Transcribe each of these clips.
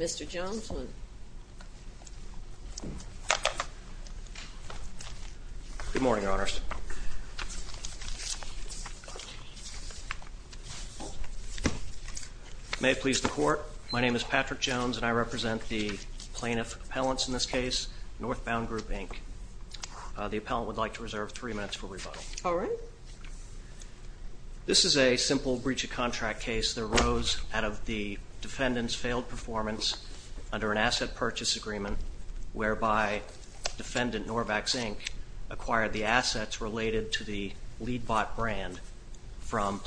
Mr. Jones, good morning, Your Honors. May it please the Court, my name is Patrick Jones and I represent the plaintiff appellants in this case, Northbound Group, Inc. The appellant would like to reserve three minutes for rebuttal. All right. This is a simple breach of contract case that arose out of the defendant's failed performance under an asset purchase agreement whereby Defendant Norvax, Inc. acquired the assets related to the lead bot brand from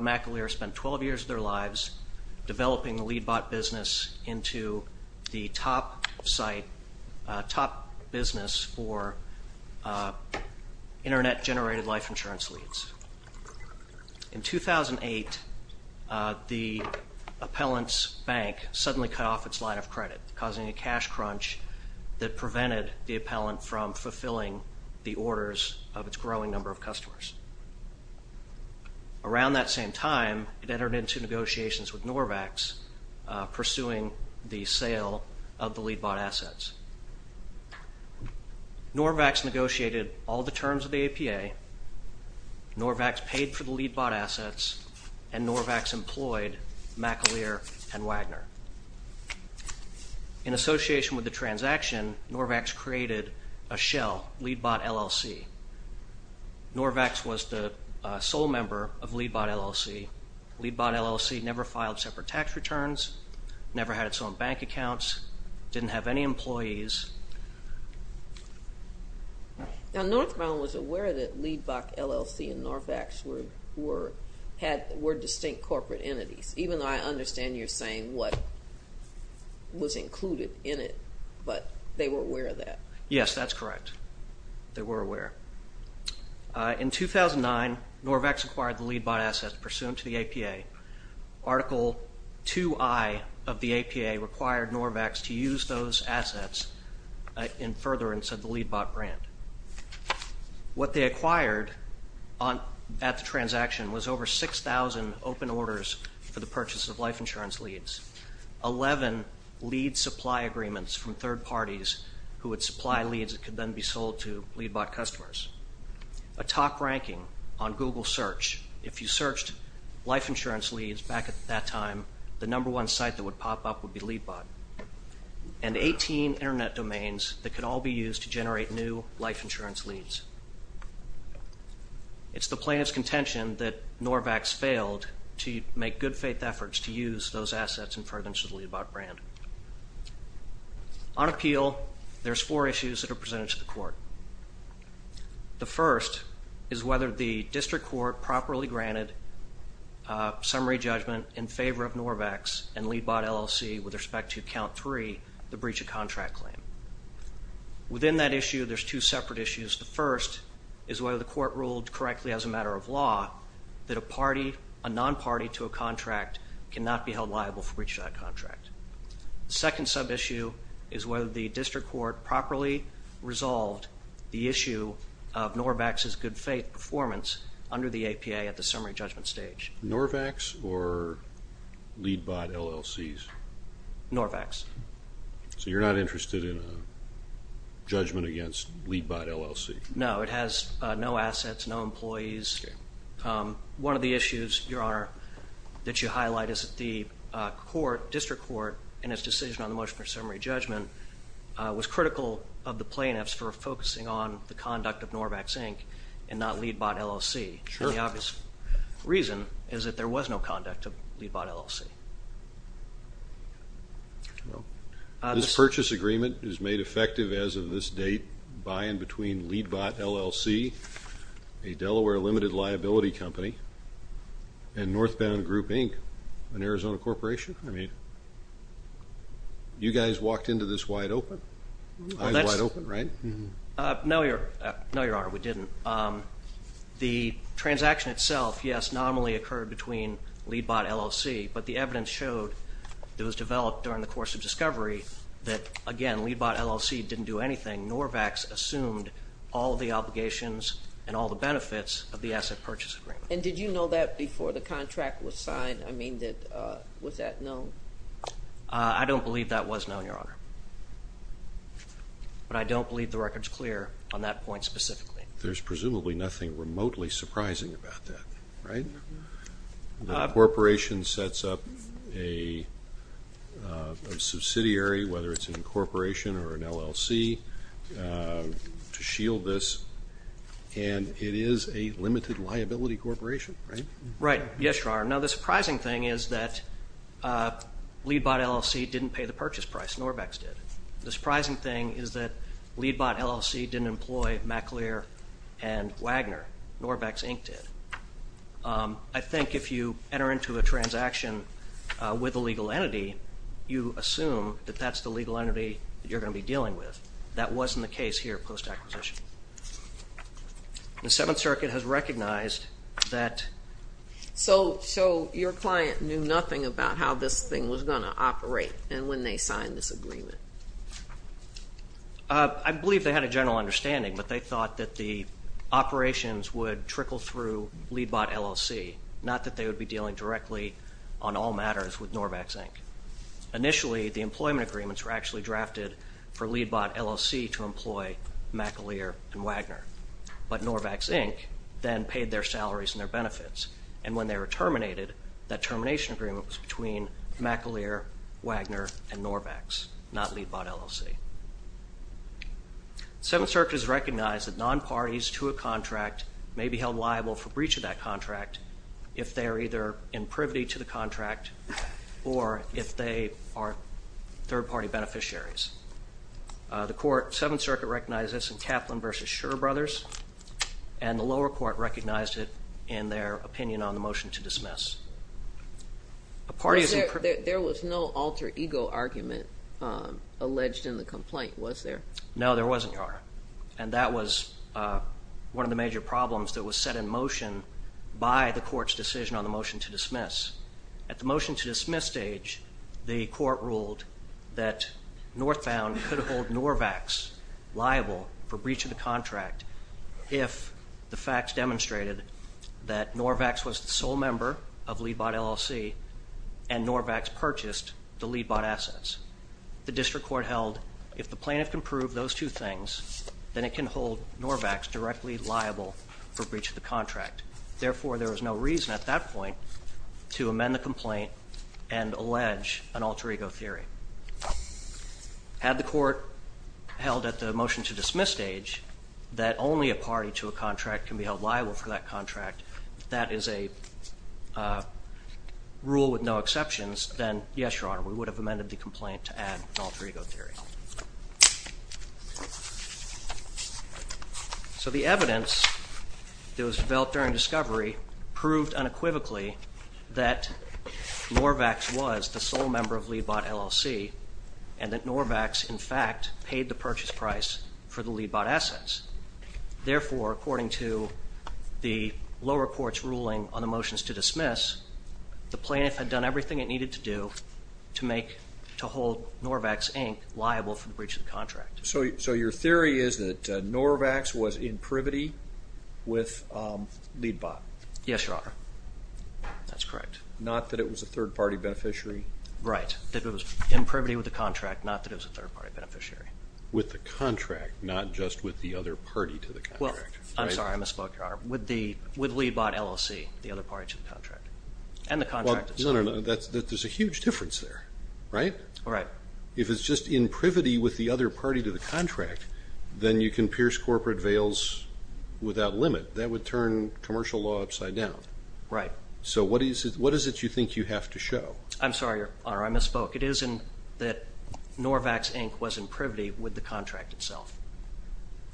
McAleer spent 12 years of their lives developing the lead bot business into the top site, top business for internet generated life insurance leads. In 2008, the appellant's bank suddenly cut off its line of credit, causing a cash crunch that prevented the appellant from fulfilling the orders of its growing number of customers. Around that same time, it entered into negotiations with Norvax pursuing the sale of the lead bot assets. Norvax negotiated all the terms of the APA. Norvax paid for the lead bot assets and Norvax employed McAleer and Wagner. In association with the transaction, Norvax created a shell, lead bot LLC. Norvax was the sole member of lead bot LLC. Lead bot LLC never filed separate tax returns, never had its own bank accounts, didn't have any employees. Now Northbound was aware that lead bot LLC and Norvax were distinct corporate entities, even though I understand you're saying what was included in it, but they were aware of that. Yes, that's correct. They were aware. In 2009, Norvax acquired the lead bot assets pursuant to the APA. Article 2I of the APA required Norvax to use those assets in furtherance of the lead bot brand. What they acquired at the transaction was over 6,000 open orders for the purchase of life insurance leads, 11 lead supply agreements from third parties who would supply leads that could then be sold to lead bot customers, a top ranking on Google search. If you searched life insurance leads back at that time, the number one site that would pop up would be lead bot, and 18 internet domains that could all be used to generate new life insurance leads. It's the plaintiff's contention that Norvax failed to make good faith efforts to use those assets in furtherance of the lead bot brand. On appeal, there's four issues that are presented to the court. The first is whether the district court properly granted summary judgment in favor of Norvax and lead bot LLC with respect to account three, the breach of contract claim. Within that issue, there's two separate issues. The first is whether the court ruled correctly as a matter of law that a party, a non-party to a contract cannot be held liable for breach of that contract. The second sub-issue is whether the district court properly resolved the issue of Norvax's good faith performance under the APA at the summary judgment stage. Norvax or lead bot LLCs? Norvax. So you're not interested in a judgment against lead bot LLC? No, it has no assets, no employees. One of the issues, Your Honor, that you highlight is that the court, district court, in its decision on the motion for summary judgment was critical of the plaintiffs for focusing on the conduct of Norvax Inc. and not lead bot LLC. The obvious reason is that there was no conduct of lead bot LLC. This purchase agreement is made effective as of this date by and between lead bot LLC, a Delaware limited liability company, and Northbound Group Inc., an Arizona corporation? I mean, you guys walked into this wide open? Wide open, right? No, Your Honor, we didn't. The transaction itself, yes, normally occurred between lead bot LLC, but the evidence showed that was developed during the course of discovery that, again, lead bot LLC didn't do anything. Norvax assumed all the obligations and all the benefits of the asset purchase agreement. And did you know that before the contract was signed? I don't believe that was known, Your Honor. But I don't believe the record's clear on that point specifically. There's presumably nothing remotely surprising about that, right? The corporation sets up a subsidiary, whether it's an incorporation or an LLC, to shield this, and it is a limited liability corporation, right? Right. Yes, Your Honor. Now the surprising thing is that lead bot LLC didn't pay the purchase price. Norvax did. The surprising thing is that lead bot LLC didn't employ MacLear and Wagner. Norvax Inc. did. I think if you enter into a transaction with a legal entity, you assume that that's the legal entity that you're going to be dealing with. That circuit has recognized that. So your client knew nothing about how this thing was going to operate and when they signed this agreement? I believe they had a general understanding, but they thought that the operations would trickle through lead bot LLC, not that they would be dealing directly on all matters with Norvax Inc. Initially, the employment agreements were actually drafted for Norvax Inc. then paid their salaries and their benefits, and when they were terminated, that termination agreement was between MacLear, Wagner, and Norvax, not lead bot LLC. Seventh Circuit has recognized that non-parties to a contract may be held liable for breach of that contract if they are either in privity to the contract or if they are third-party beneficiaries. The court, Seventh Circuit, and the lower court recognized it in their opinion on the motion to dismiss. There was no alter ego argument alleged in the complaint, was there? No, there wasn't, Your Honor, and that was one of the major problems that was set in motion by the court's decision on the motion to dismiss. At the motion to dismiss stage, the court ruled that Northbound could hold Norvax liable for breach of the contract. The facts demonstrated that Norvax was the sole member of lead bot LLC and Norvax purchased the lead bot assets. The district court held if the plaintiff can prove those two things, then it can hold Norvax directly liable for breach of the contract. Therefore, there was no reason at that point to amend the complaint and allege an alter ego theory. Had the court held at the motion to dismiss stage that only a contract can be held liable for that contract, that is a rule with no exceptions, then yes, Your Honor, we would have amended the complaint to add an alter ego theory. So the evidence that was developed during discovery proved unequivocally that Norvax was the sole member of lead bot LLC and that Norvax, in fact, paid the purchase price for the lead bot assets. According to the lower court's ruling on the motions to dismiss, the plaintiff had done everything it needed to do to make, to hold Norvax, Inc. liable for the breach of the contract. So your theory is that Norvax was in privity with lead bot? Yes, Your Honor. That's correct. Not that it was a third party beneficiary? Right. That it was in privity with the contract, not that it was a third party beneficiary. With the contract, not just with the other party to the contract. Well, I'm sorry, I misspoke, Your Honor. With lead bot LLC, the other party to the contract, and the contract itself. No, no, no. There's a huge difference there, right? Right. If it's just in privity with the other party to the contract, then you can pierce corporate veils without limit. That would turn commercial law upside down. Right. So what is it you think you have to show? I'm sorry, Your Honor, I misspoke. It isn't that Norvax, Inc. was in privity with the contract itself.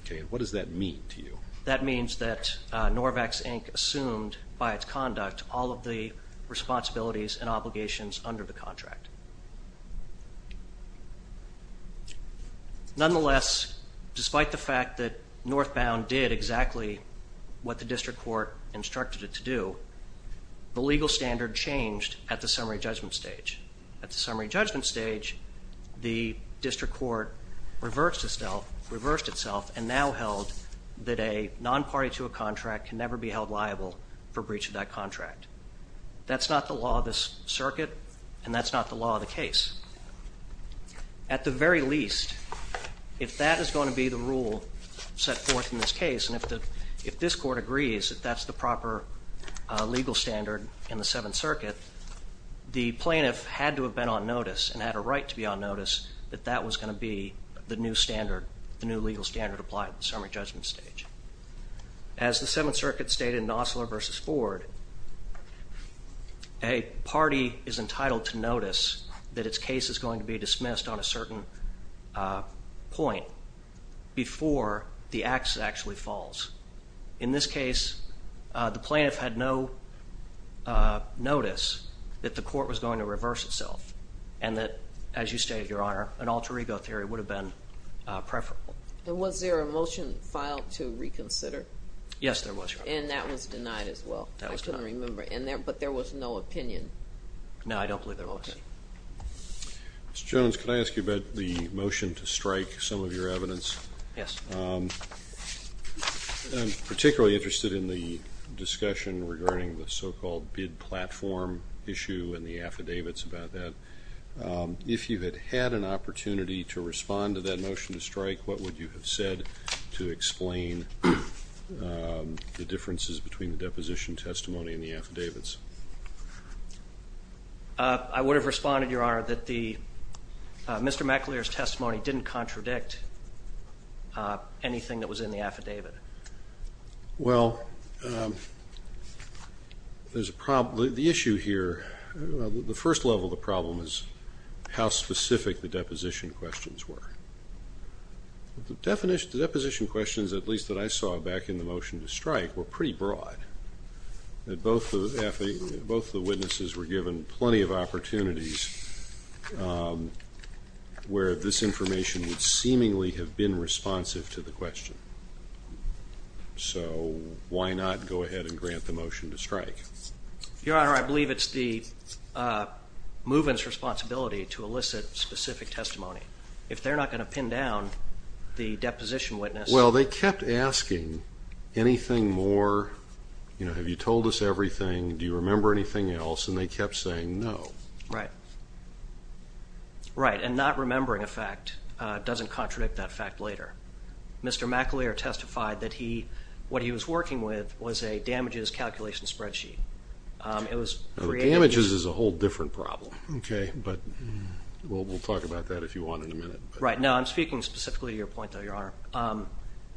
Okay, and what does that mean to you? That means that Norvax, Inc. assumed by its conduct all of the responsibilities and obligations under the contract. Nonetheless, despite the fact that Northbound did exactly what the district court instructed it to do, the legal standard changed at the summary judgment stage. At the summary judgment stage, the district court reversed itself and now held that a non-party to a contract can never be held liable for breach of that contract. That's not the law of this circuit, and that's not the law of the case. At the very least, if that is going to be the rule set forth in this case, and if this court agrees that that's the proper legal standard in the Seventh Circuit, the plaintiff had to have been on notice and had a right to be on notice that that was going to be the new standard, the new legal standard applied at the summary judgment stage. As the Seventh Circuit stated in Nosler v. Ford, a party is entitled to notice that its case is going to be dismissed on a certain point before the act actually falls. In this case, the plaintiff had no notice that the court was going to reverse itself and that, as you stated, Your Honor, an alter ego theory would have been preferable. And was there a motion filed to reconsider? Yes, there was, Your Honor. And that was denied as well? That was denied. I couldn't remember, but there was no opinion? No, I don't believe there was. Mr. Jones, could I ask you about the motion to strike some of your evidence? Yes. I'm particularly interested in the discussion regarding the so-called bid platform issue and the affidavits about that. If you had had an opportunity to respond to that motion to strike, what would you have said to explain the differences between the deposition testimony and the affidavits? I would have responded, Your Honor, that Mr. McAleer's testimony didn't contradict anything that was in the affidavit. Well, there's a problem. The issue here, the first level of the problem is how specific the deposition questions were. The deposition questions, at least that I saw back in the motion to strike, were pretty broad. Both the witnesses were given plenty of opportunities where this information would seemingly have been responsive to the question. So, why not go ahead and grant the motion to strike? Your Honor, I believe it's the movement's responsibility to elicit specific testimony. If they're not going to pin down the deposition witness... Well, they kept asking anything more, you know, have you told us everything, do you remember anything else, and they kept saying no. Right. Right, and not remembering a fact doesn't contradict that fact later. Mr. McAleer testified that what he was working with was a damages calculation spreadsheet. Damages is a whole different problem, okay, but we'll talk about that if you want in a minute. Right, no, I'm speaking specifically to your point though, Your Honor.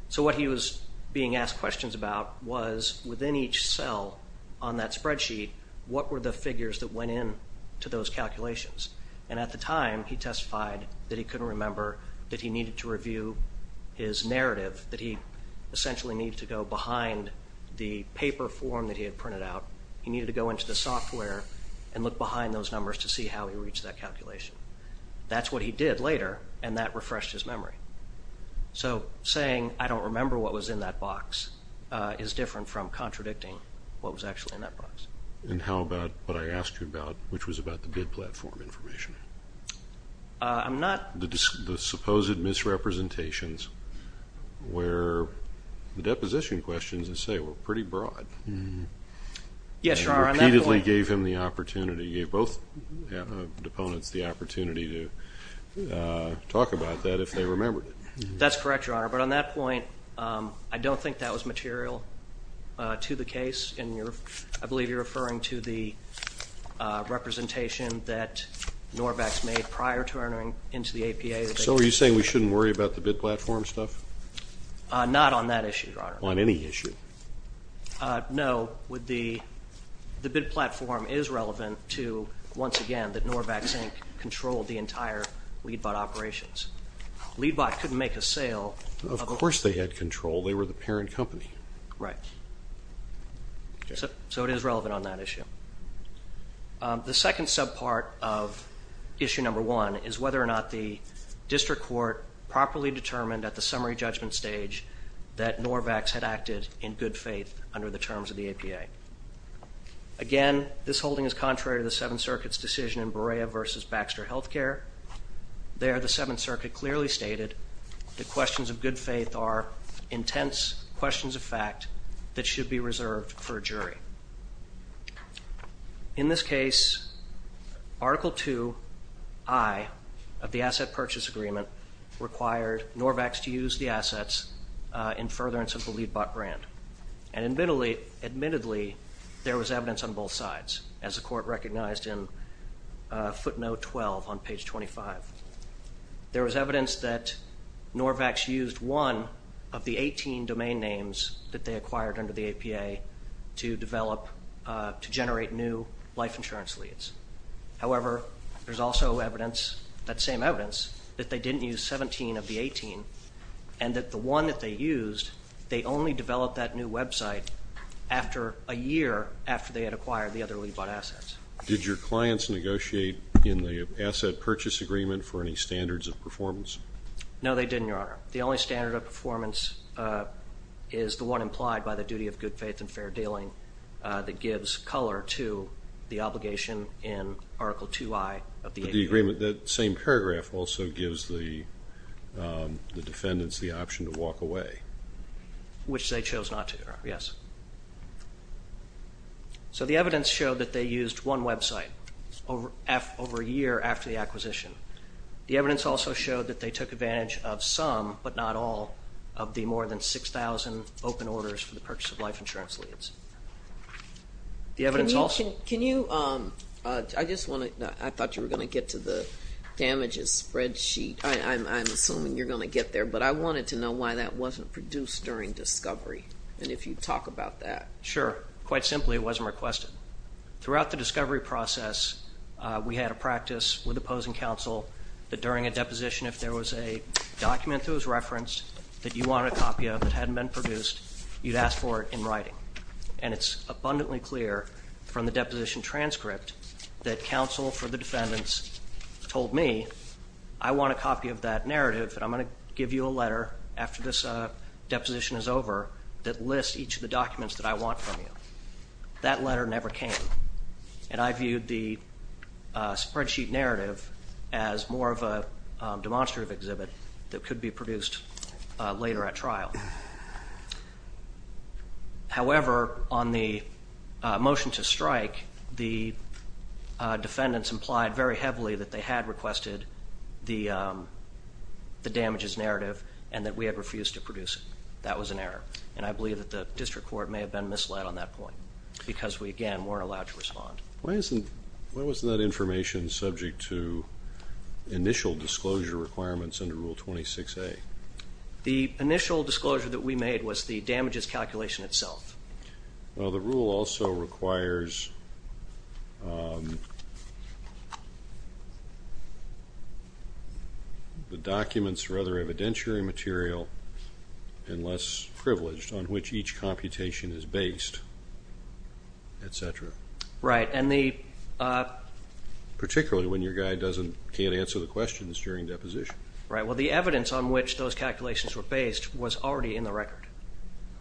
So what he was being asked questions about was within each cell on that spreadsheet, what were the figures that went in to those calculations? And at the time, he testified that he couldn't remember, that he needed to review his narrative, that he essentially needed to go behind the paper form that he had printed out, he needed to go into the software and look behind those numbers to see how he reached that calculation. That's what he did later, and that refreshed his memory. So saying I don't remember what was in that box is different from contradicting what was actually in that box. And how about what I asked you about, which was about the bid platform information? I'm not... The supposed misrepresentations where the deposition questions, as I say, were pretty broad. Yes, Your Honor, on that point... to talk about that if they remembered it. That's correct, Your Honor, but on that point, I don't think that was material to the case. I believe you're referring to the representation that Norvax made prior to entering into the APA. So are you saying we shouldn't worry about the bid platform stuff? Not on that issue, Your Honor. On any issue? No. The bid platform is relevant to, once again, that Norvax Inc. controlled the entire LeadBot operations. LeadBot couldn't make a sale... Of course they had control. They were the parent company. Right. So it is relevant on that issue. The second subpart of issue number one is whether or not the District Court properly determined at the summary judgment stage that Norvax had acted in good faith under the terms of the APA. Again, this holding is contrary to the Seventh Circuit's decision in Berea v. Baxter Healthcare. There, the Seventh Circuit clearly stated that questions of good faith are intense questions of fact that should be reserved for a jury. In this case, Article III of the Asset Purchase Agreement required Norvax to use the assets in furtherance of the LeadBot brand. And admittedly, there was evidence on both sides, as the Court recognized in footnote 12 on page 25. There was evidence that Norvax used one of the 18 domain names that they acquired under the APA to develop, to generate new life insurance leads. However, there's also evidence, that same evidence, that they didn't use 17 of the 18, and that the one that they used, they only developed that new website after a year after they had acquired the other LeadBot assets. Did your clients negotiate in the Asset Purchase Agreement for any standards of performance? No, they didn't, Your Honor. The only standard of performance is the one implied by the duty of good faith and fair dealing that gives color to the obligation in Article III of the APA. But the agreement, that same paragraph, also gives the defendants the option to walk away. Which they chose not to, Your Honor, yes. So the evidence showed that they used one website over a year after the acquisition. The evidence also showed that they took advantage of some, but not all, of the more than 6,000 open orders for the purchase of life insurance leads. Can you, I just wanted, I thought you were going to get to the damages spreadsheet. I'm assuming you're going to get there, but I wanted to know why that wasn't produced during discovery. And if you'd talk about that. Sure. Quite simply, it wasn't requested. Throughout the discovery process, we had a practice with opposing counsel that during a deposition, if there was a document that was referenced that you wanted a copy of that hadn't been produced, you'd ask for it in writing. And it's abundantly clear from the deposition transcript that counsel for the defendants told me, I want a copy of that narrative, and I'm going to give you a letter after this deposition is over that lists each of the documents that I want from you. That letter never came. And I viewed the spreadsheet narrative as more of a demonstrative exhibit that could be produced later at trial. However, on the motion to strike, the defendants implied very heavily that they had requested the damages narrative and that we had refused to produce it. That was an error. And I believe that the district court may have been misled on that point because we, again, weren't allowed to respond. Why isn't, why wasn't that information subject to initial disclosure requirements under Rule 26A? The initial disclosure that we made was the damages calculation itself. Well, the rule also requires the documents rather evidentiary material and less privileged on which each computation is based, et cetera. Right, and the... Particularly when your guy doesn't, can't answer the questions during deposition. Right, well, the evidence on which those calculations were based was already in the record.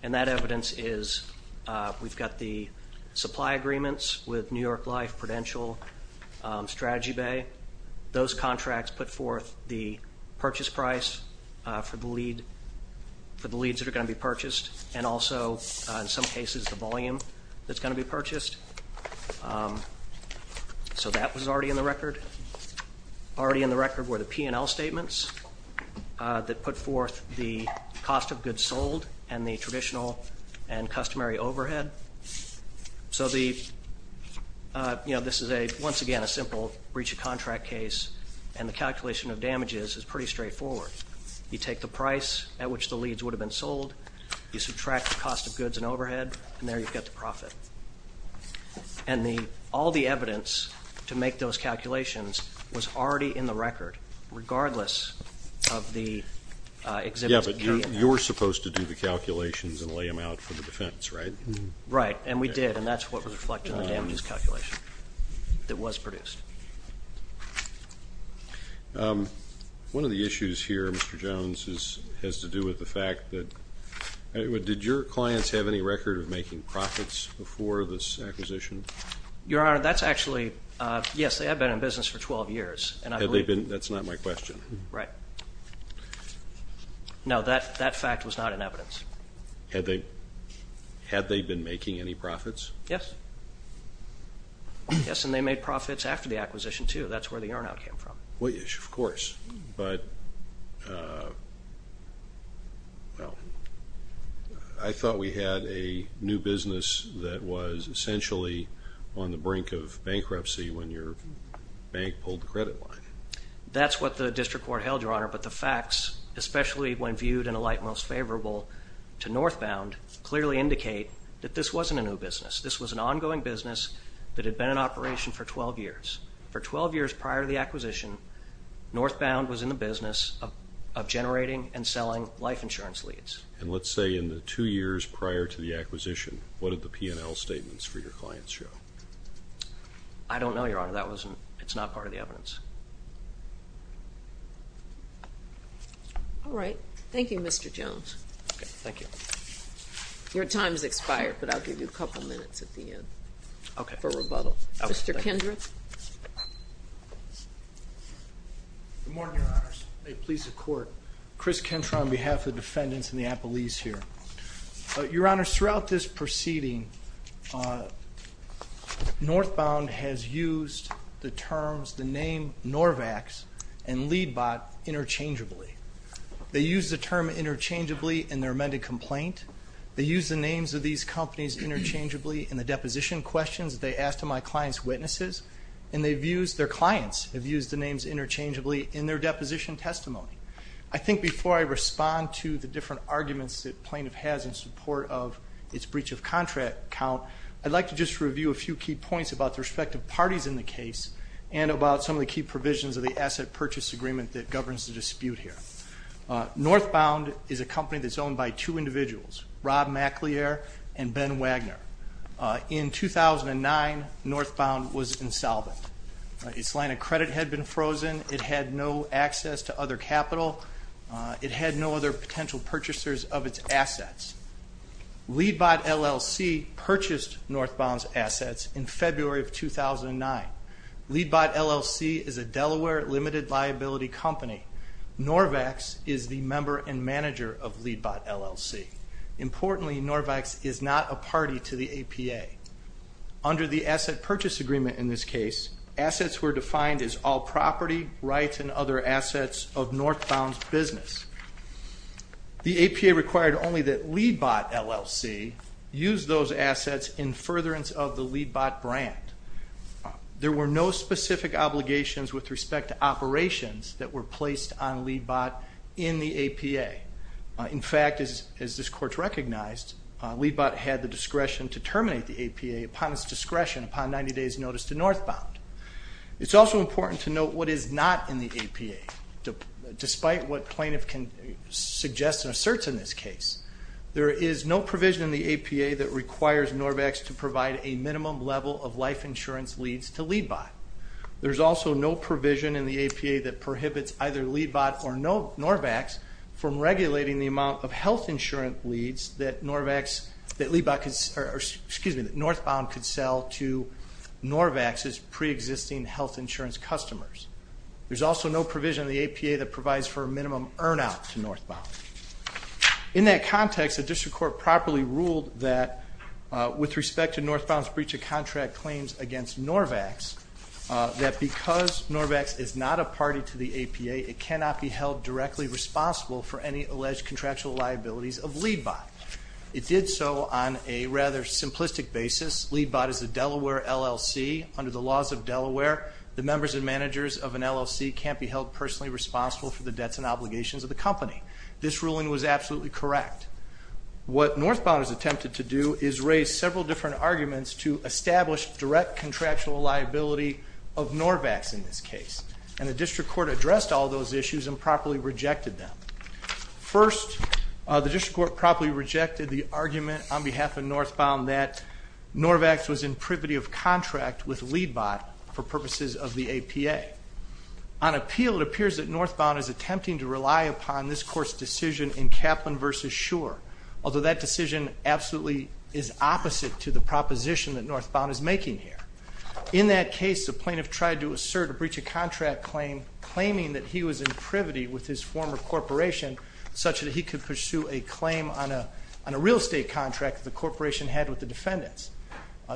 And that evidence is, we've got the supply agreements with New York Life, Prudential, Strategy Bay. Those contracts put forth the purchase price for the lead, for the leads that are going to be purchased. And also, in some cases, the volume that's going to be purchased. So that was already in the record. Already in the record were the P&L statements that put forth the cost of goods sold and the traditional and customary overhead. So the, you know, this is a, once again, a simple breach of contract case. And the calculation of damages is pretty straightforward. You take the price at which the leads would have been sold. You subtract the cost of goods and overhead. And there you've got the profit. And the, all the evidence to make those calculations was already in the record, regardless of the exhibits. Yeah, but you're supposed to do the calculations and lay them out for the defense, right? Right, and we did. And that's what was reflected in the damages calculation that was produced. One of the issues here, Mr. Jones, has to do with the fact that, did your clients have any record of making profits before this acquisition? Your Honor, that's actually, yes, they have been in business for 12 years. Had they been, that's not my question. Right. No, that fact was not in evidence. Had they been making any profits? Yes. Yes, and they made profits after the acquisition, too. That's where the earn out came from. Well, yes, of course. But, well, I thought we had a new business that was essentially on the brink of bankruptcy when your bank pulled the credit line. That's what the district court held, Your Honor. But the facts, especially when viewed in a light most favorable to northbound, clearly indicate that this wasn't a new business. This was an ongoing business that had been in operation for 12 years. For 12 years prior to the acquisition, northbound was in the business of generating and selling life insurance leads. And let's say in the two years prior to the acquisition, what did the P&L statements for your clients show? I don't know, Your Honor. That wasn't, it's not part of the evidence. All right. Thank you, Mr. Jones. Okay. Thank you. Your time has expired, but I'll give you a couple minutes at the end. Okay. For rebuttal. Okay. Mr. Kendrick. Good morning, Your Honors. May it please the Court. Chris Kentra on behalf of the defendants in the appellees here. Your Honor, throughout this proceeding, northbound has used the terms, the name Norvax and Leadbot interchangeably. They used the term interchangeably in their amended complaint. They used the names of these companies interchangeably in the deposition questions they asked of my client's witnesses. And they've used, their clients have used the names interchangeably in their deposition testimony. I think before I respond to the different arguments that plaintiff has in support of its breach of contract count, I'd like to just review a few key points about the respective parties in the case and about some of the key provisions of the asset purchase agreement that governs the dispute here. Northbound is a company that's owned by two individuals, Rob McLear and Ben Wagner. In 2009, northbound was insolvent. Its line of credit had been frozen. It had no access to other capital. It had no other potential purchasers of its assets. Leadbot LLC purchased northbound's assets in February of 2009. Leadbot LLC is a Delaware limited liability company. Norvex is the member and manager of Leadbot LLC. Importantly, Norvex is not a party to the APA. Under the asset purchase agreement in this case, assets were defined as all property, rights, and other assets of northbound's business. The APA required only that Leadbot LLC use those assets in furtherance of the Leadbot brand. There were no specific obligations with respect to operations that were placed on Leadbot in the APA. In fact, as this court recognized, Leadbot had the discretion to terminate the APA upon its discretion upon 90 days notice to northbound. It's also important to note what is not in the APA. Despite what plaintiff can suggest and assert in this case, there is no provision in the APA that requires Norvex to provide a minimum level of life insurance leads to Leadbot. There's also no provision in the APA that prohibits either Leadbot or Norvex from regulating the amount of health insurance leads that northbound could sell to Norvex's pre-existing health insurance customers. There's also no provision in the APA that provides for minimum earn out to northbound. In that context, the district court properly ruled that with respect to northbound's breach of contract claims against Norvex, that because Norvex is not a party to the APA, it cannot be held directly responsible for any alleged contractual liabilities of Leadbot. It did so on a rather simplistic basis. Leadbot is a Delaware LLC. Under the laws of Delaware, the members and managers of an LLC can't be held personally responsible for the debts and obligations of the company. This ruling was absolutely correct. What northbound has attempted to do is raise several different arguments to establish direct contractual liability of Norvex in this case. And the district court addressed all those issues and properly rejected them. First, the district court properly rejected the argument on behalf of northbound that Norvex was in privity of contract with Leadbot for purposes of the APA. On appeal, it appears that northbound is attempting to rely upon this court's decision in Kaplan v. Shure, although that decision absolutely is opposite to the proposition that northbound is making here. In that case, the plaintiff tried to assert a breach of contract claim, claiming that he was in privity with his former corporation, such that he could pursue a claim on a real estate contract that the corporation had with the defendants.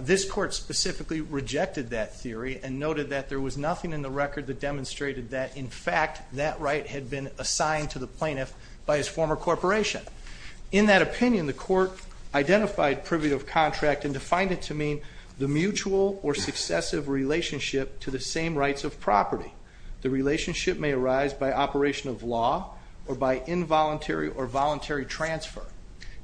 This court specifically rejected that theory and noted that there was nothing in the record that demonstrated that, in fact, that right had been assigned to the plaintiff by his former corporation. In that opinion, the court identified privity of contract and defined it to mean the mutual or successive relationship to the same rights of property. The relationship may arise by operation of law or by involuntary or voluntary transfer.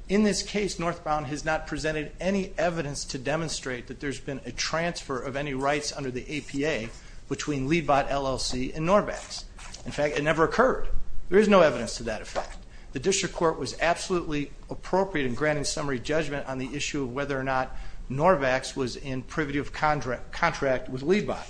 In this case, northbound has not presented any evidence to demonstrate that there's been a transfer of any rights under the APA between Leadbot LLC and Norvex. In fact, it never occurred. There is no evidence to that effect. The district court was absolutely appropriate in granting summary judgment on the issue of whether or not Norvex was in privity of contract with Leadbot.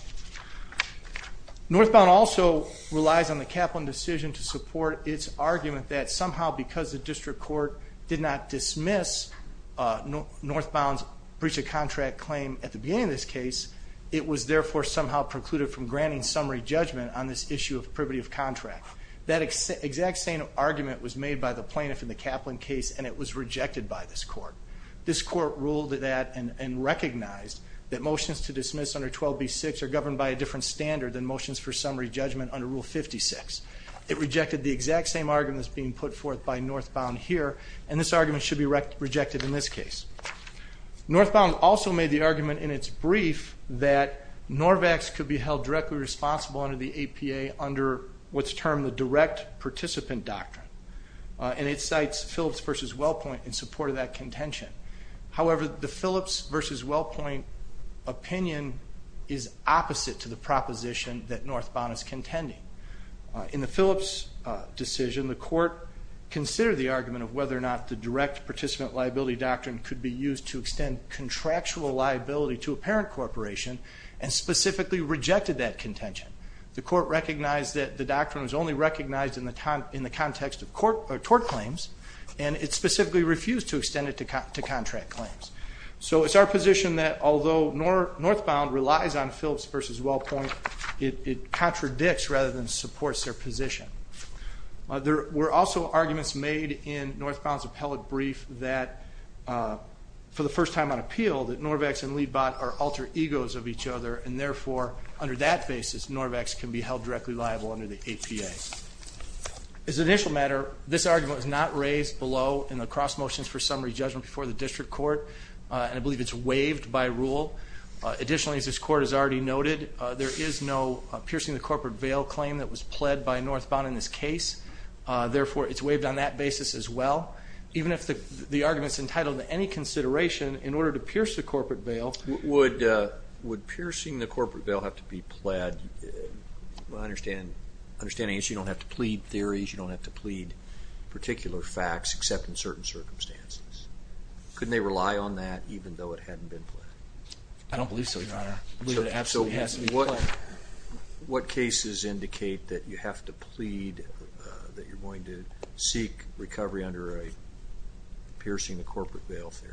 Northbound also relies on the Kaplan decision to support its argument that, somehow, because the district court did not dismiss Northbound's breach of contract claim at the beginning of this case, it was therefore somehow precluded from granting summary judgment on this issue of privity of contract. That exact same argument was made by the plaintiff in the Kaplan case, and it was rejected by this court. This court ruled that and recognized that motions to dismiss under 12B6 are governed by a different standard than motions for summary judgment under Rule 56. It rejected the exact same argument that's being put forth by Northbound here, and this argument should be rejected in this case. Northbound also made the argument in its brief that Norvex could be held directly responsible under the APA under what's termed the direct participant doctrine. And it cites Phillips v. Wellpoint in support of that contention. However, the Phillips v. Wellpoint opinion is opposite to the proposition that Northbound is contending. In the Phillips decision, the court considered the argument of whether or not the direct participant liability doctrine could be used to extend contractual liability to a parent corporation, and specifically rejected that contention. The court recognized that the doctrine was only recognized in the context of tort claims, and it specifically refused to extend it to contract claims. So it's our position that although Northbound relies on Phillips v. Wellpoint, it contradicts rather than supports their position. There were also arguments made in Northbound's appellate brief that, for the first time on appeal, that Norvex and Libot are alter egos of each other and therefore, under that basis, Norvex can be held directly liable under the APA. As an initial matter, this argument was not raised below in the cross motions for summary judgment before the district court, and I believe it's waived by rule. Additionally, as this court has already noted, there is no piercing the corporate veil claim that was pled by Northbound in this case. Therefore, it's waived on that basis as well. Even if the argument's entitled to any consideration in order to pierce the corporate veil... Would piercing the corporate veil have to be pled? My understanding is you don't have to plead theories, you don't have to plead particular facts except in certain circumstances. Couldn't they rely on that even though it hadn't been pled? I don't believe so, Your Honor. I believe it absolutely has to be pled. What cases indicate that you have to plead, that you're going to seek recovery under a piercing the corporate veil theory?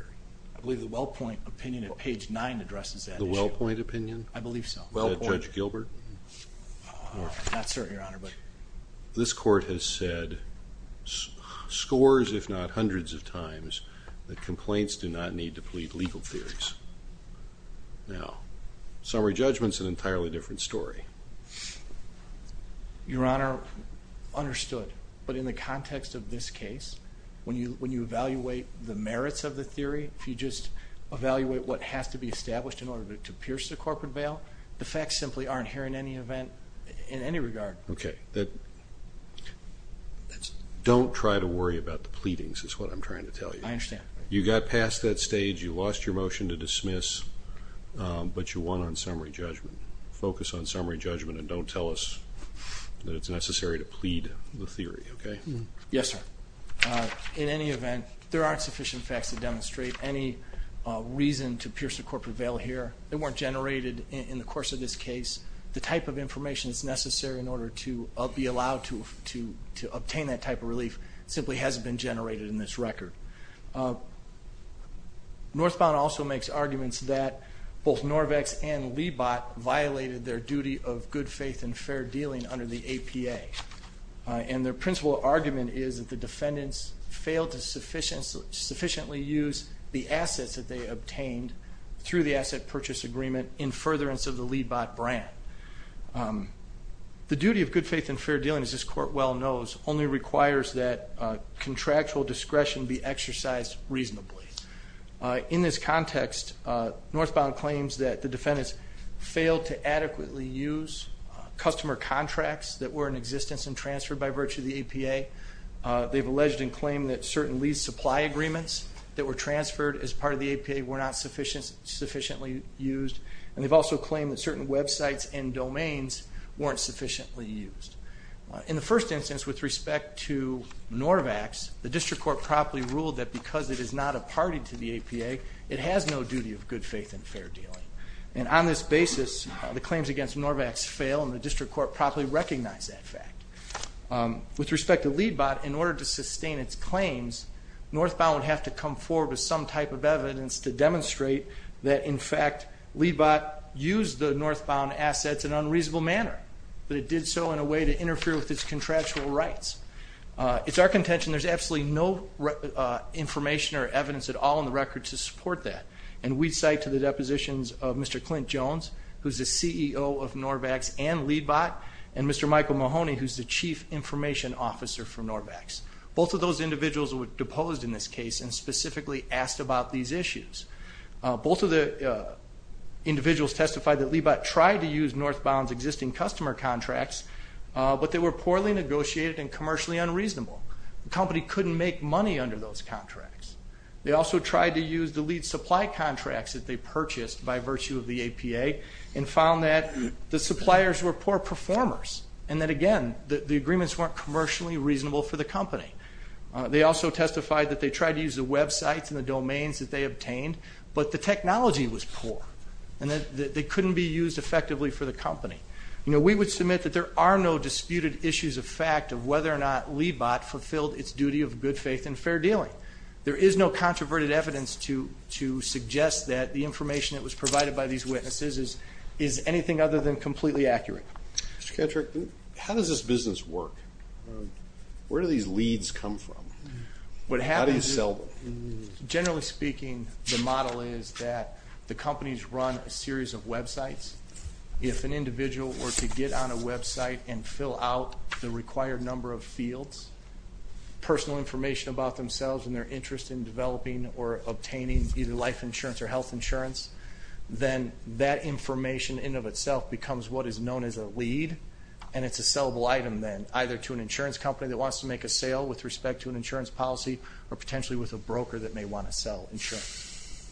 I believe the Wellpoint opinion at page 9 addresses that issue. The Wellpoint opinion? I believe so. Is that Judge Gilbert? Not certain, Your Honor, but... This court has said scores, if not hundreds of times, that complaints do not need to plead legal theories. Now, summary judgment's an entirely different story. Your Honor, understood. But in the context of this case, when you evaluate the merits of the theory, if you just evaluate what has to be established in order to pierce the corporate veil, the facts simply aren't here in any event, in any regard. Okay. Don't try to worry about the pleadings is what I'm trying to tell you. I understand. You got past that stage, you lost your motion to dismiss, but you won on summary judgment. Focus on summary judgment and don't tell us that it's necessary to plead the theory, okay? Yes, sir. In any event, there aren't sufficient facts to demonstrate any reason to pierce the corporate veil here. They weren't generated in the course of this case. The type of information that's necessary in order to be allowed to obtain that type of relief simply hasn't been generated in this record. Northbound also makes arguments that both Norvex and Libot violated their duty of good faith and fair dealing under the APA. And their principal argument is that the defendants failed to sufficiently use the assets that they obtained through the asset purchase agreement in furtherance of the Libot brand. The duty of good faith and fair dealing, as this court well knows, only requires that contractual discretion be exercised reasonably. In this context, Northbound claims that the defendants failed to adequately use customer contracts that were in existence and transferred by virtue of the APA. They've alleged and claimed that certain lease supply agreements that were transferred as part of the APA were not sufficiently used. And they've also claimed that certain websites and domains weren't sufficiently used. In the first instance, with respect to Norvex, the District Court properly ruled that because it is not a party to the APA, it has no duty of good faith and fair dealing. And on this basis, the claims against Norvex fail and the District Court properly recognized that fact. With respect to Libot, in order to sustain its claims, Northbound would have to come forward with some type of evidence to demonstrate that, in fact, Libot used the Northbound assets in an unreasonable manner. But it did so in a way to interfere with its contractual rights. It's our contention there's absolutely no information or evidence at all in the record to support that. And we cite to the depositions of Mr. Clint Jones, who's the CEO of Norvex and Libot, and Mr. Michael Mahoney, who's the Chief Information Officer for Norvex. Both of those individuals were deposed in this case and specifically asked about these issues. Both of the individuals testified that Libot tried to use Northbound's existing customer contracts, but they were poorly negotiated and commercially unreasonable. The company couldn't make money under those contracts. They also tried to use the lead supply contracts that they purchased by virtue of the APA and found that the suppliers were poor performers. And that, again, the agreements weren't commercially reasonable for the company. They also testified that they tried to use the websites and the domains that they obtained, but the technology was poor and that they couldn't be used effectively for the company. You know, we would submit that there are no disputed issues of fact of whether or not Libot fulfilled its duty of good faith and fair dealing. There is no controverted evidence to suggest that the information that was provided by these witnesses is anything other than completely accurate. Mr. Kattrick, how does this business work? Where do these leads come from? How do you sell them? Generally speaking, the model is that the companies run a series of websites. If an individual were to get on a website and fill out the required number of fields, personal information about themselves and their interest in developing or obtaining either life insurance or health insurance, then that information in and of itself becomes what is known as a lead. And it's a sellable item then, either to an insurance company that wants to make a sale with respect to an insurance policy or potentially with a broker that may want to sell insurance.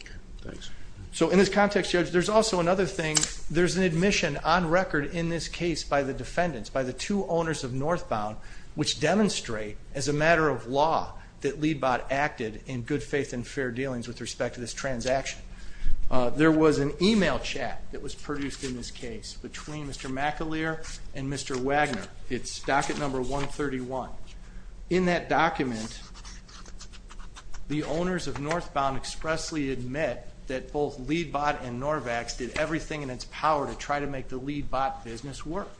Okay, thanks. So in this context, Judge, there's also another thing. There's an admission on record in this case by the defendants, by the two owners of Northbound, which demonstrate as a matter of law that Leadbot acted in good faith and fair dealings with respect to this transaction. There was an email chat that was produced in this case between Mr. McAleer and Mr. Wagner. It's docket number 131. In that document, the owners of Northbound expressly admit that both Leadbot and Norvax did everything in its power to try to make the Leadbot business work.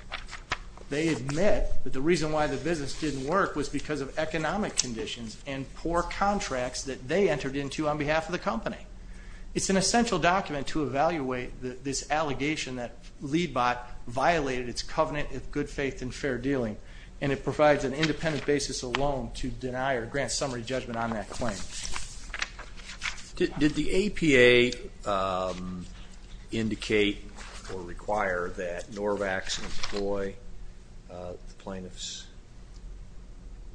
They admit that the reason why the business didn't work was because of economic conditions and poor contracts that they entered into on behalf of the company. It's an essential document to evaluate this allegation that Leadbot violated its covenant of good faith and fair dealing, and it provides an independent basis alone to deny or grant summary judgment on that claim. Did the APA indicate or require that Norvax employ the plaintiffs?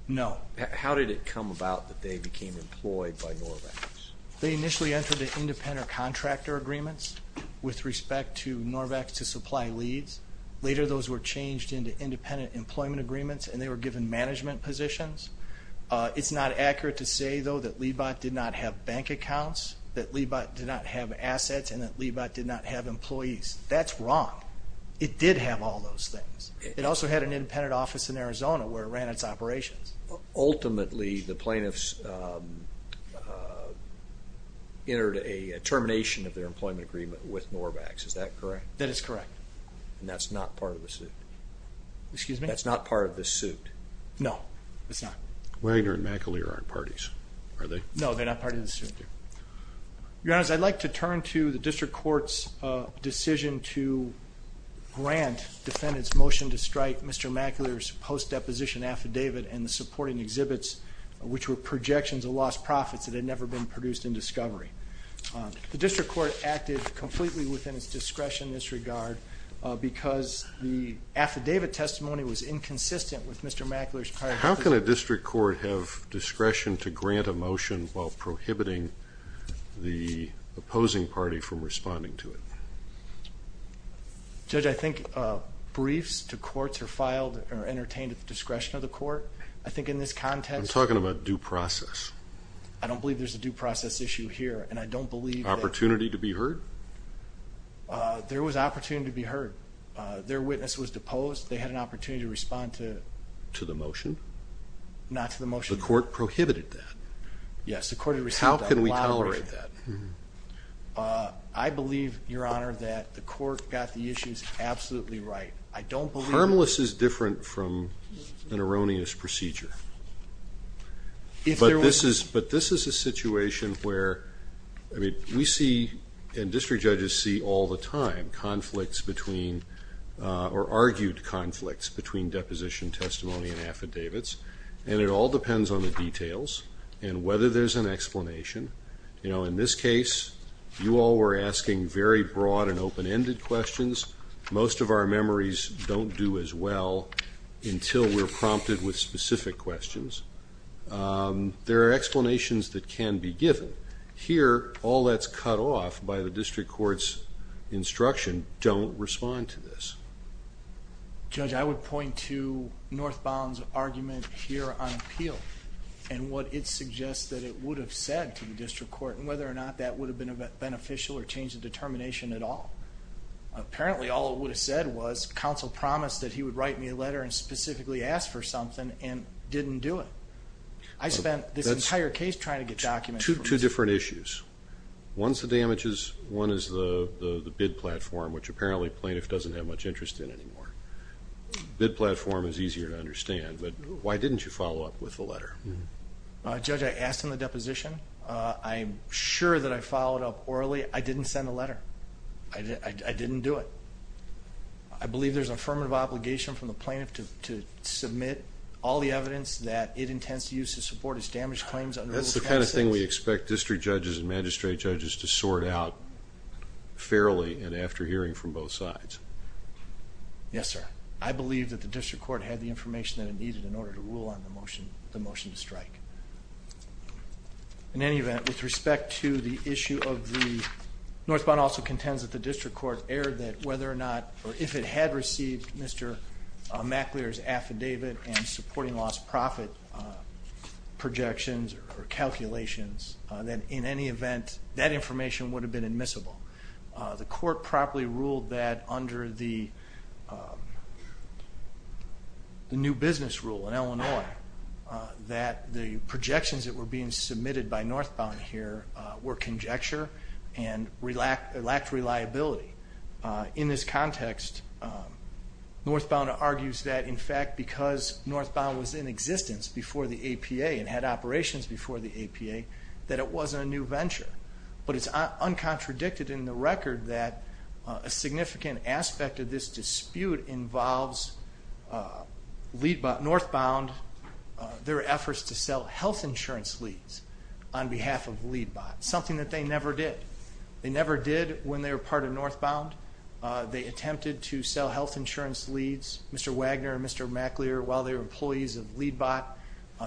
No. How did it come about that they became employed by Norvax? They initially entered into independent contractor agreements with respect to Norvax to supply leads. Later, those were changed into independent employment agreements, and they were given management positions. It's not accurate to say, though, that Leadbot did not have bank accounts, that Leadbot did not have assets, and that Leadbot did not have employees. That's wrong. It did have all those things. It also had an independent office in Arizona where it ran its operations. Ultimately, the plaintiffs entered a termination of their employment agreement with Norvax. Is that correct? That is correct. And that's not part of the suit? Excuse me? That's not part of the suit? No, it's not. Wagner and McAleer aren't parties, are they? No, they're not part of the suit. Your Honor, I'd like to turn to the district court's decision to grant defendants' motion to strike Mr. McAleer's post-deposition affidavit and the supporting exhibits, which were projections of lost profits that had never been produced in discovery. The district court acted completely within its discretion in this regard because the affidavit testimony was inconsistent with Mr. McAleer's prior decision. How can a district court have discretion to grant a motion while prohibiting the opposing party from responding to it? Judge, I think briefs to courts are filed or entertained at the discretion of the court. I think in this context. I'm talking about due process. I don't believe there's a due process issue here, and I don't believe that. Opportunity to be heard? There was opportunity to be heard. Their witness was deposed. They had an opportunity to respond to the motion. Not to the motion. The court prohibited that. Yes, the court had received that. How can we tolerate that? I believe, Your Honor, that the court got the issues absolutely right. I don't believe. Harmless is different from an erroneous procedure. But this is a situation where we see, and district judges see all the time, conflicts between or argued conflicts between deposition testimony and affidavits, and it all depends on the details and whether there's an explanation. In this case, you all were asking very broad and open-ended questions. Most of our memories don't do as well until we're prompted with specific questions. There are explanations that can be given. Here, all that's cut off by the district court's instruction, don't respond to this. Judge, I would point to Northbound's argument here on appeal and what it suggests that it would have said to the district court and whether or not that would have been beneficial or changed the determination at all. Apparently, all it would have said was counsel promised that he would write me a letter and specifically ask for something and didn't do it. I spent this entire case trying to get documents. Two different issues. One's the damages, one is the bid platform, which apparently plaintiff doesn't have much interest in anymore. Bid platform is easier to understand, but why didn't you follow up with the letter? Judge, I asked him the deposition. I'm sure that I followed up orally. I didn't send a letter. I didn't do it. I believe there's an affirmative obligation from the plaintiff to submit all the evidence that it intends to use to support its damaged claims under rule 26. That's the kind of thing we expect district judges and magistrate judges to sort out fairly and after hearing from both sides. Yes, sir. I believe that the district court had the information that it needed in order to rule on the motion to strike. In any event, with respect to the issue of the North Bond, also contends that the district court erred that whether or not or if it had received Mr. Maclear's affidavit and supporting lost profit projections or calculations, that in any event that information would have been admissible. The court properly ruled that under the new business rule in Illinois that the projections that were being submitted by North Bond here were conjecture and lacked reliability. In this context, North Bond argues that, in fact, because North Bond was in existence before the APA and had operations before the APA, that it wasn't a new venture. But it's uncontradicted in the record that a significant aspect of this dispute involves North Bond, their efforts to sell health insurance leads on behalf of LEADBOT, something that they never did. They never did when they were part of North Bond. They attempted to sell health insurance leads, Mr. Wagner and Mr. Maclear, while they were employees of LEADBOT.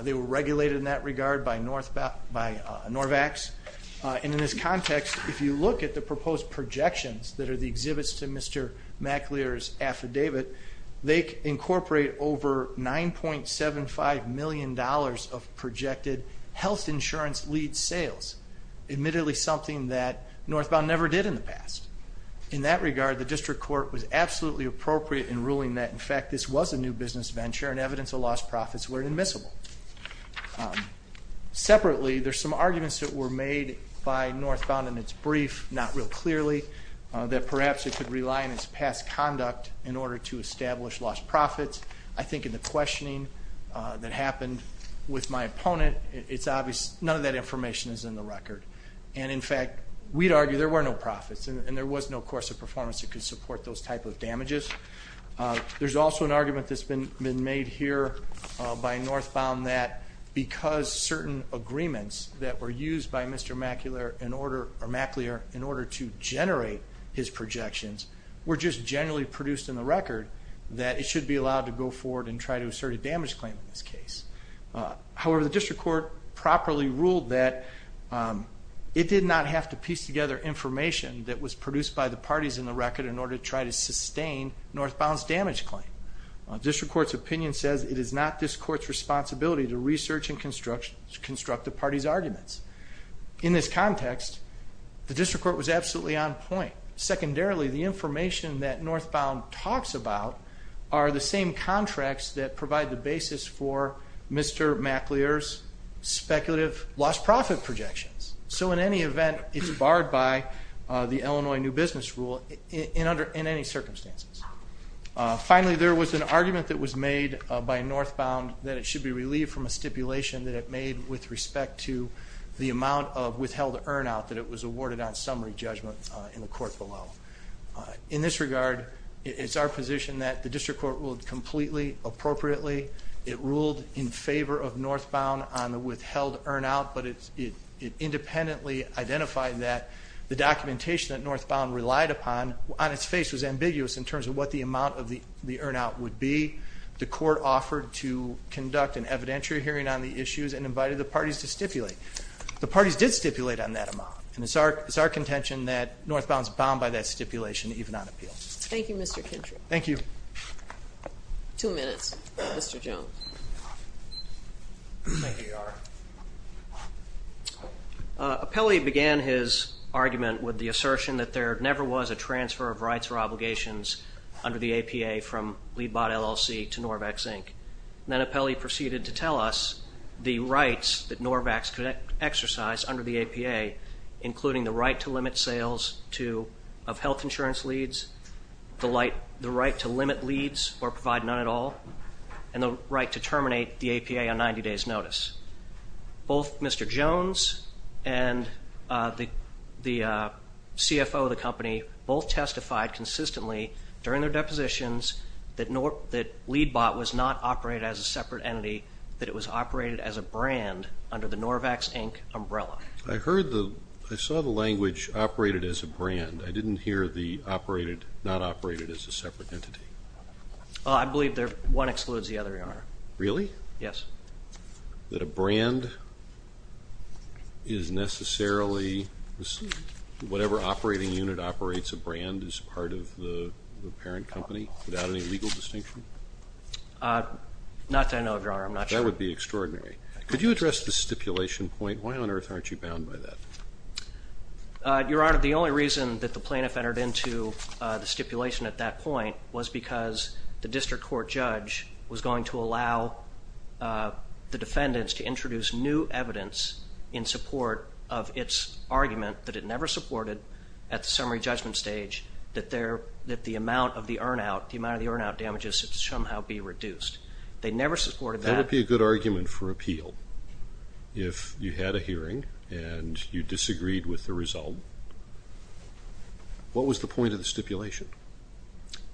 They were regulated in that regard by Norvax. In this context, if you look at the proposed projections that are the exhibits to Mr. Maclear's affidavit, they incorporate over $9.75 million of projected health insurance lead sales, admittedly something that North Bond never did in the past. In that regard, the district court was absolutely appropriate in ruling that, in fact, this was a new business venture and evidence of lost profits were admissible. Separately, there's some arguments that were made by North Bond in its brief, not real clearly, that perhaps it could rely on its past conduct in order to establish lost profits. I think in the questioning that happened with my opponent, none of that information is in the record. In fact, we'd argue there were no profits and there was no course of performance that could support those type of damages. There's also an argument that's been made here by North Bond that because certain agreements that were used by Mr. Maclear in order to generate his projections were just generally produced in the record that it should be allowed to go forward and try to assert a damage claim in this case. However, the district court properly ruled that it did not have to piece together information that was produced by the parties in the record in order to try to sustain North Bond's damage claim. The district court's opinion says it is not this court's responsibility to research and construct the parties' arguments. In this context, the district court was absolutely on point. Secondarily, the information that North Bond talks about are the same contracts that provide the basis for Mr. Maclear's speculative lost profit projections. So in any event, it's barred by the Illinois New Business Rule in any circumstances. Finally, there was an argument that was made by North Bond that it should be relieved from a stipulation that it made with respect to the amount of withheld earn-out that it was awarded on summary judgment in the court below. In this regard, it's our position that the district court ruled completely appropriately. It ruled in favor of North Bond on the withheld earn-out, but it independently identified that the documentation that North Bond relied upon on its face was ambiguous in terms of what the amount of the earn-out would be. The court offered to conduct an evidentiary hearing on the issues and invited the parties to stipulate. The parties did stipulate on that amount, and it's our contention that North Bond is bound by that stipulation even on appeal. Thank you, Mr. Kintry. Thank you. Two minutes, Mr. Jones. Apelli began his argument with the assertion that there never was a transfer of rights or obligations under the APA from LeadBot LLC to Norvax, Inc. Then Apelli proceeded to tell us the rights that Norvax could exercise under the APA, including the right to limit sales of health insurance leads, the right to limit leads or provide none at all, and the right to terminate the APA on 90 days' notice. Both Mr. Jones and the CFO of the company both testified consistently during their depositions that LeadBot was not operated as a separate entity, that it was operated as a brand under the Norvax, Inc. umbrella. I saw the language operated as a brand. I didn't hear the operated, not operated as a separate entity. I believe one excludes the other, Your Honor. Really? Yes. That a brand is necessarily whatever operating unit operates a brand as part of the parent company, without any legal distinction? Not that I know of, Your Honor. I'm not sure. That would be extraordinary. Could you address the stipulation point? Why on earth aren't you bound by that? Your Honor, the only reason that the plaintiff entered into the stipulation at that point was because the district court judge was going to allow the defendants to introduce new evidence in support of its argument that it never supported at the summary judgment stage that the amount of the earn-out, the amount of the earn-out damages should somehow be reduced. They never supported that. That would be a good argument for appeal. If you had a hearing and you disagreed with the result, what was the point of the stipulation?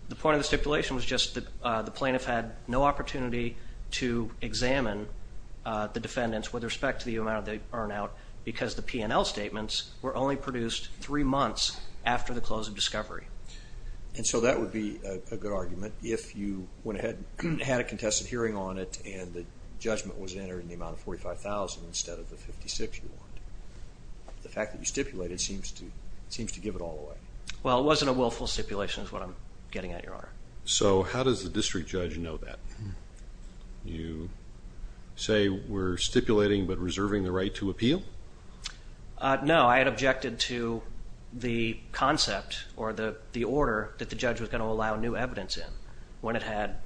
The point of the stipulation was just the plaintiff had no opportunity to examine the defendants with respect to the amount of the earn-out because the P&L statements were only produced three months after the close of discovery. And so that would be a good argument if you went ahead and had a contested hearing on it and the judgment was entered in the amount of $45,000 instead of the $56,000 you want. The fact that you stipulated seems to give it all away. Well, it wasn't a willful stipulation is what I'm getting at, Your Honor. So how does the district judge know that? You say we're stipulating but reserving the right to appeal? No. I had objected to the concept or the order that the judge was going to allow new evidence in when it had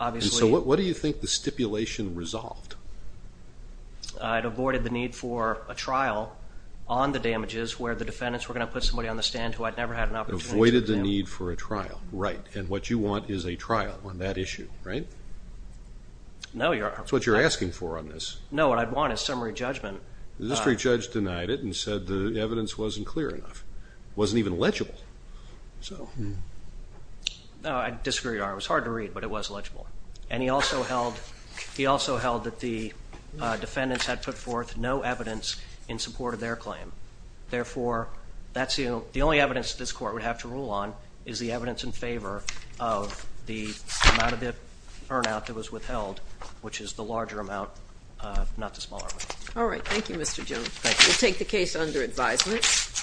obviously And so what do you think the stipulation resolved? It avoided the need for a trial on the damages where the defendants were going to put somebody on the stand who had never had an opportunity to present. Avoided the need for a trial, right. And what you want is a trial on that issue, right? No, Your Honor. That's what you're asking for on this. No, what I'd want is summary judgment. The district judge denied it and said the evidence wasn't clear enough. It wasn't even legible. No, I disagree, Your Honor. It was hard to read but it was legible. And he also held that the defendants had put forth no evidence in support of their claim. Therefore, that's the only evidence this court would have to rule on is the evidence in favor of the amount of earnout that was withheld, which is the larger amount, not the smaller amount. All right. Thank you, Mr. Jones. Thank you. We'll take the case under advisement.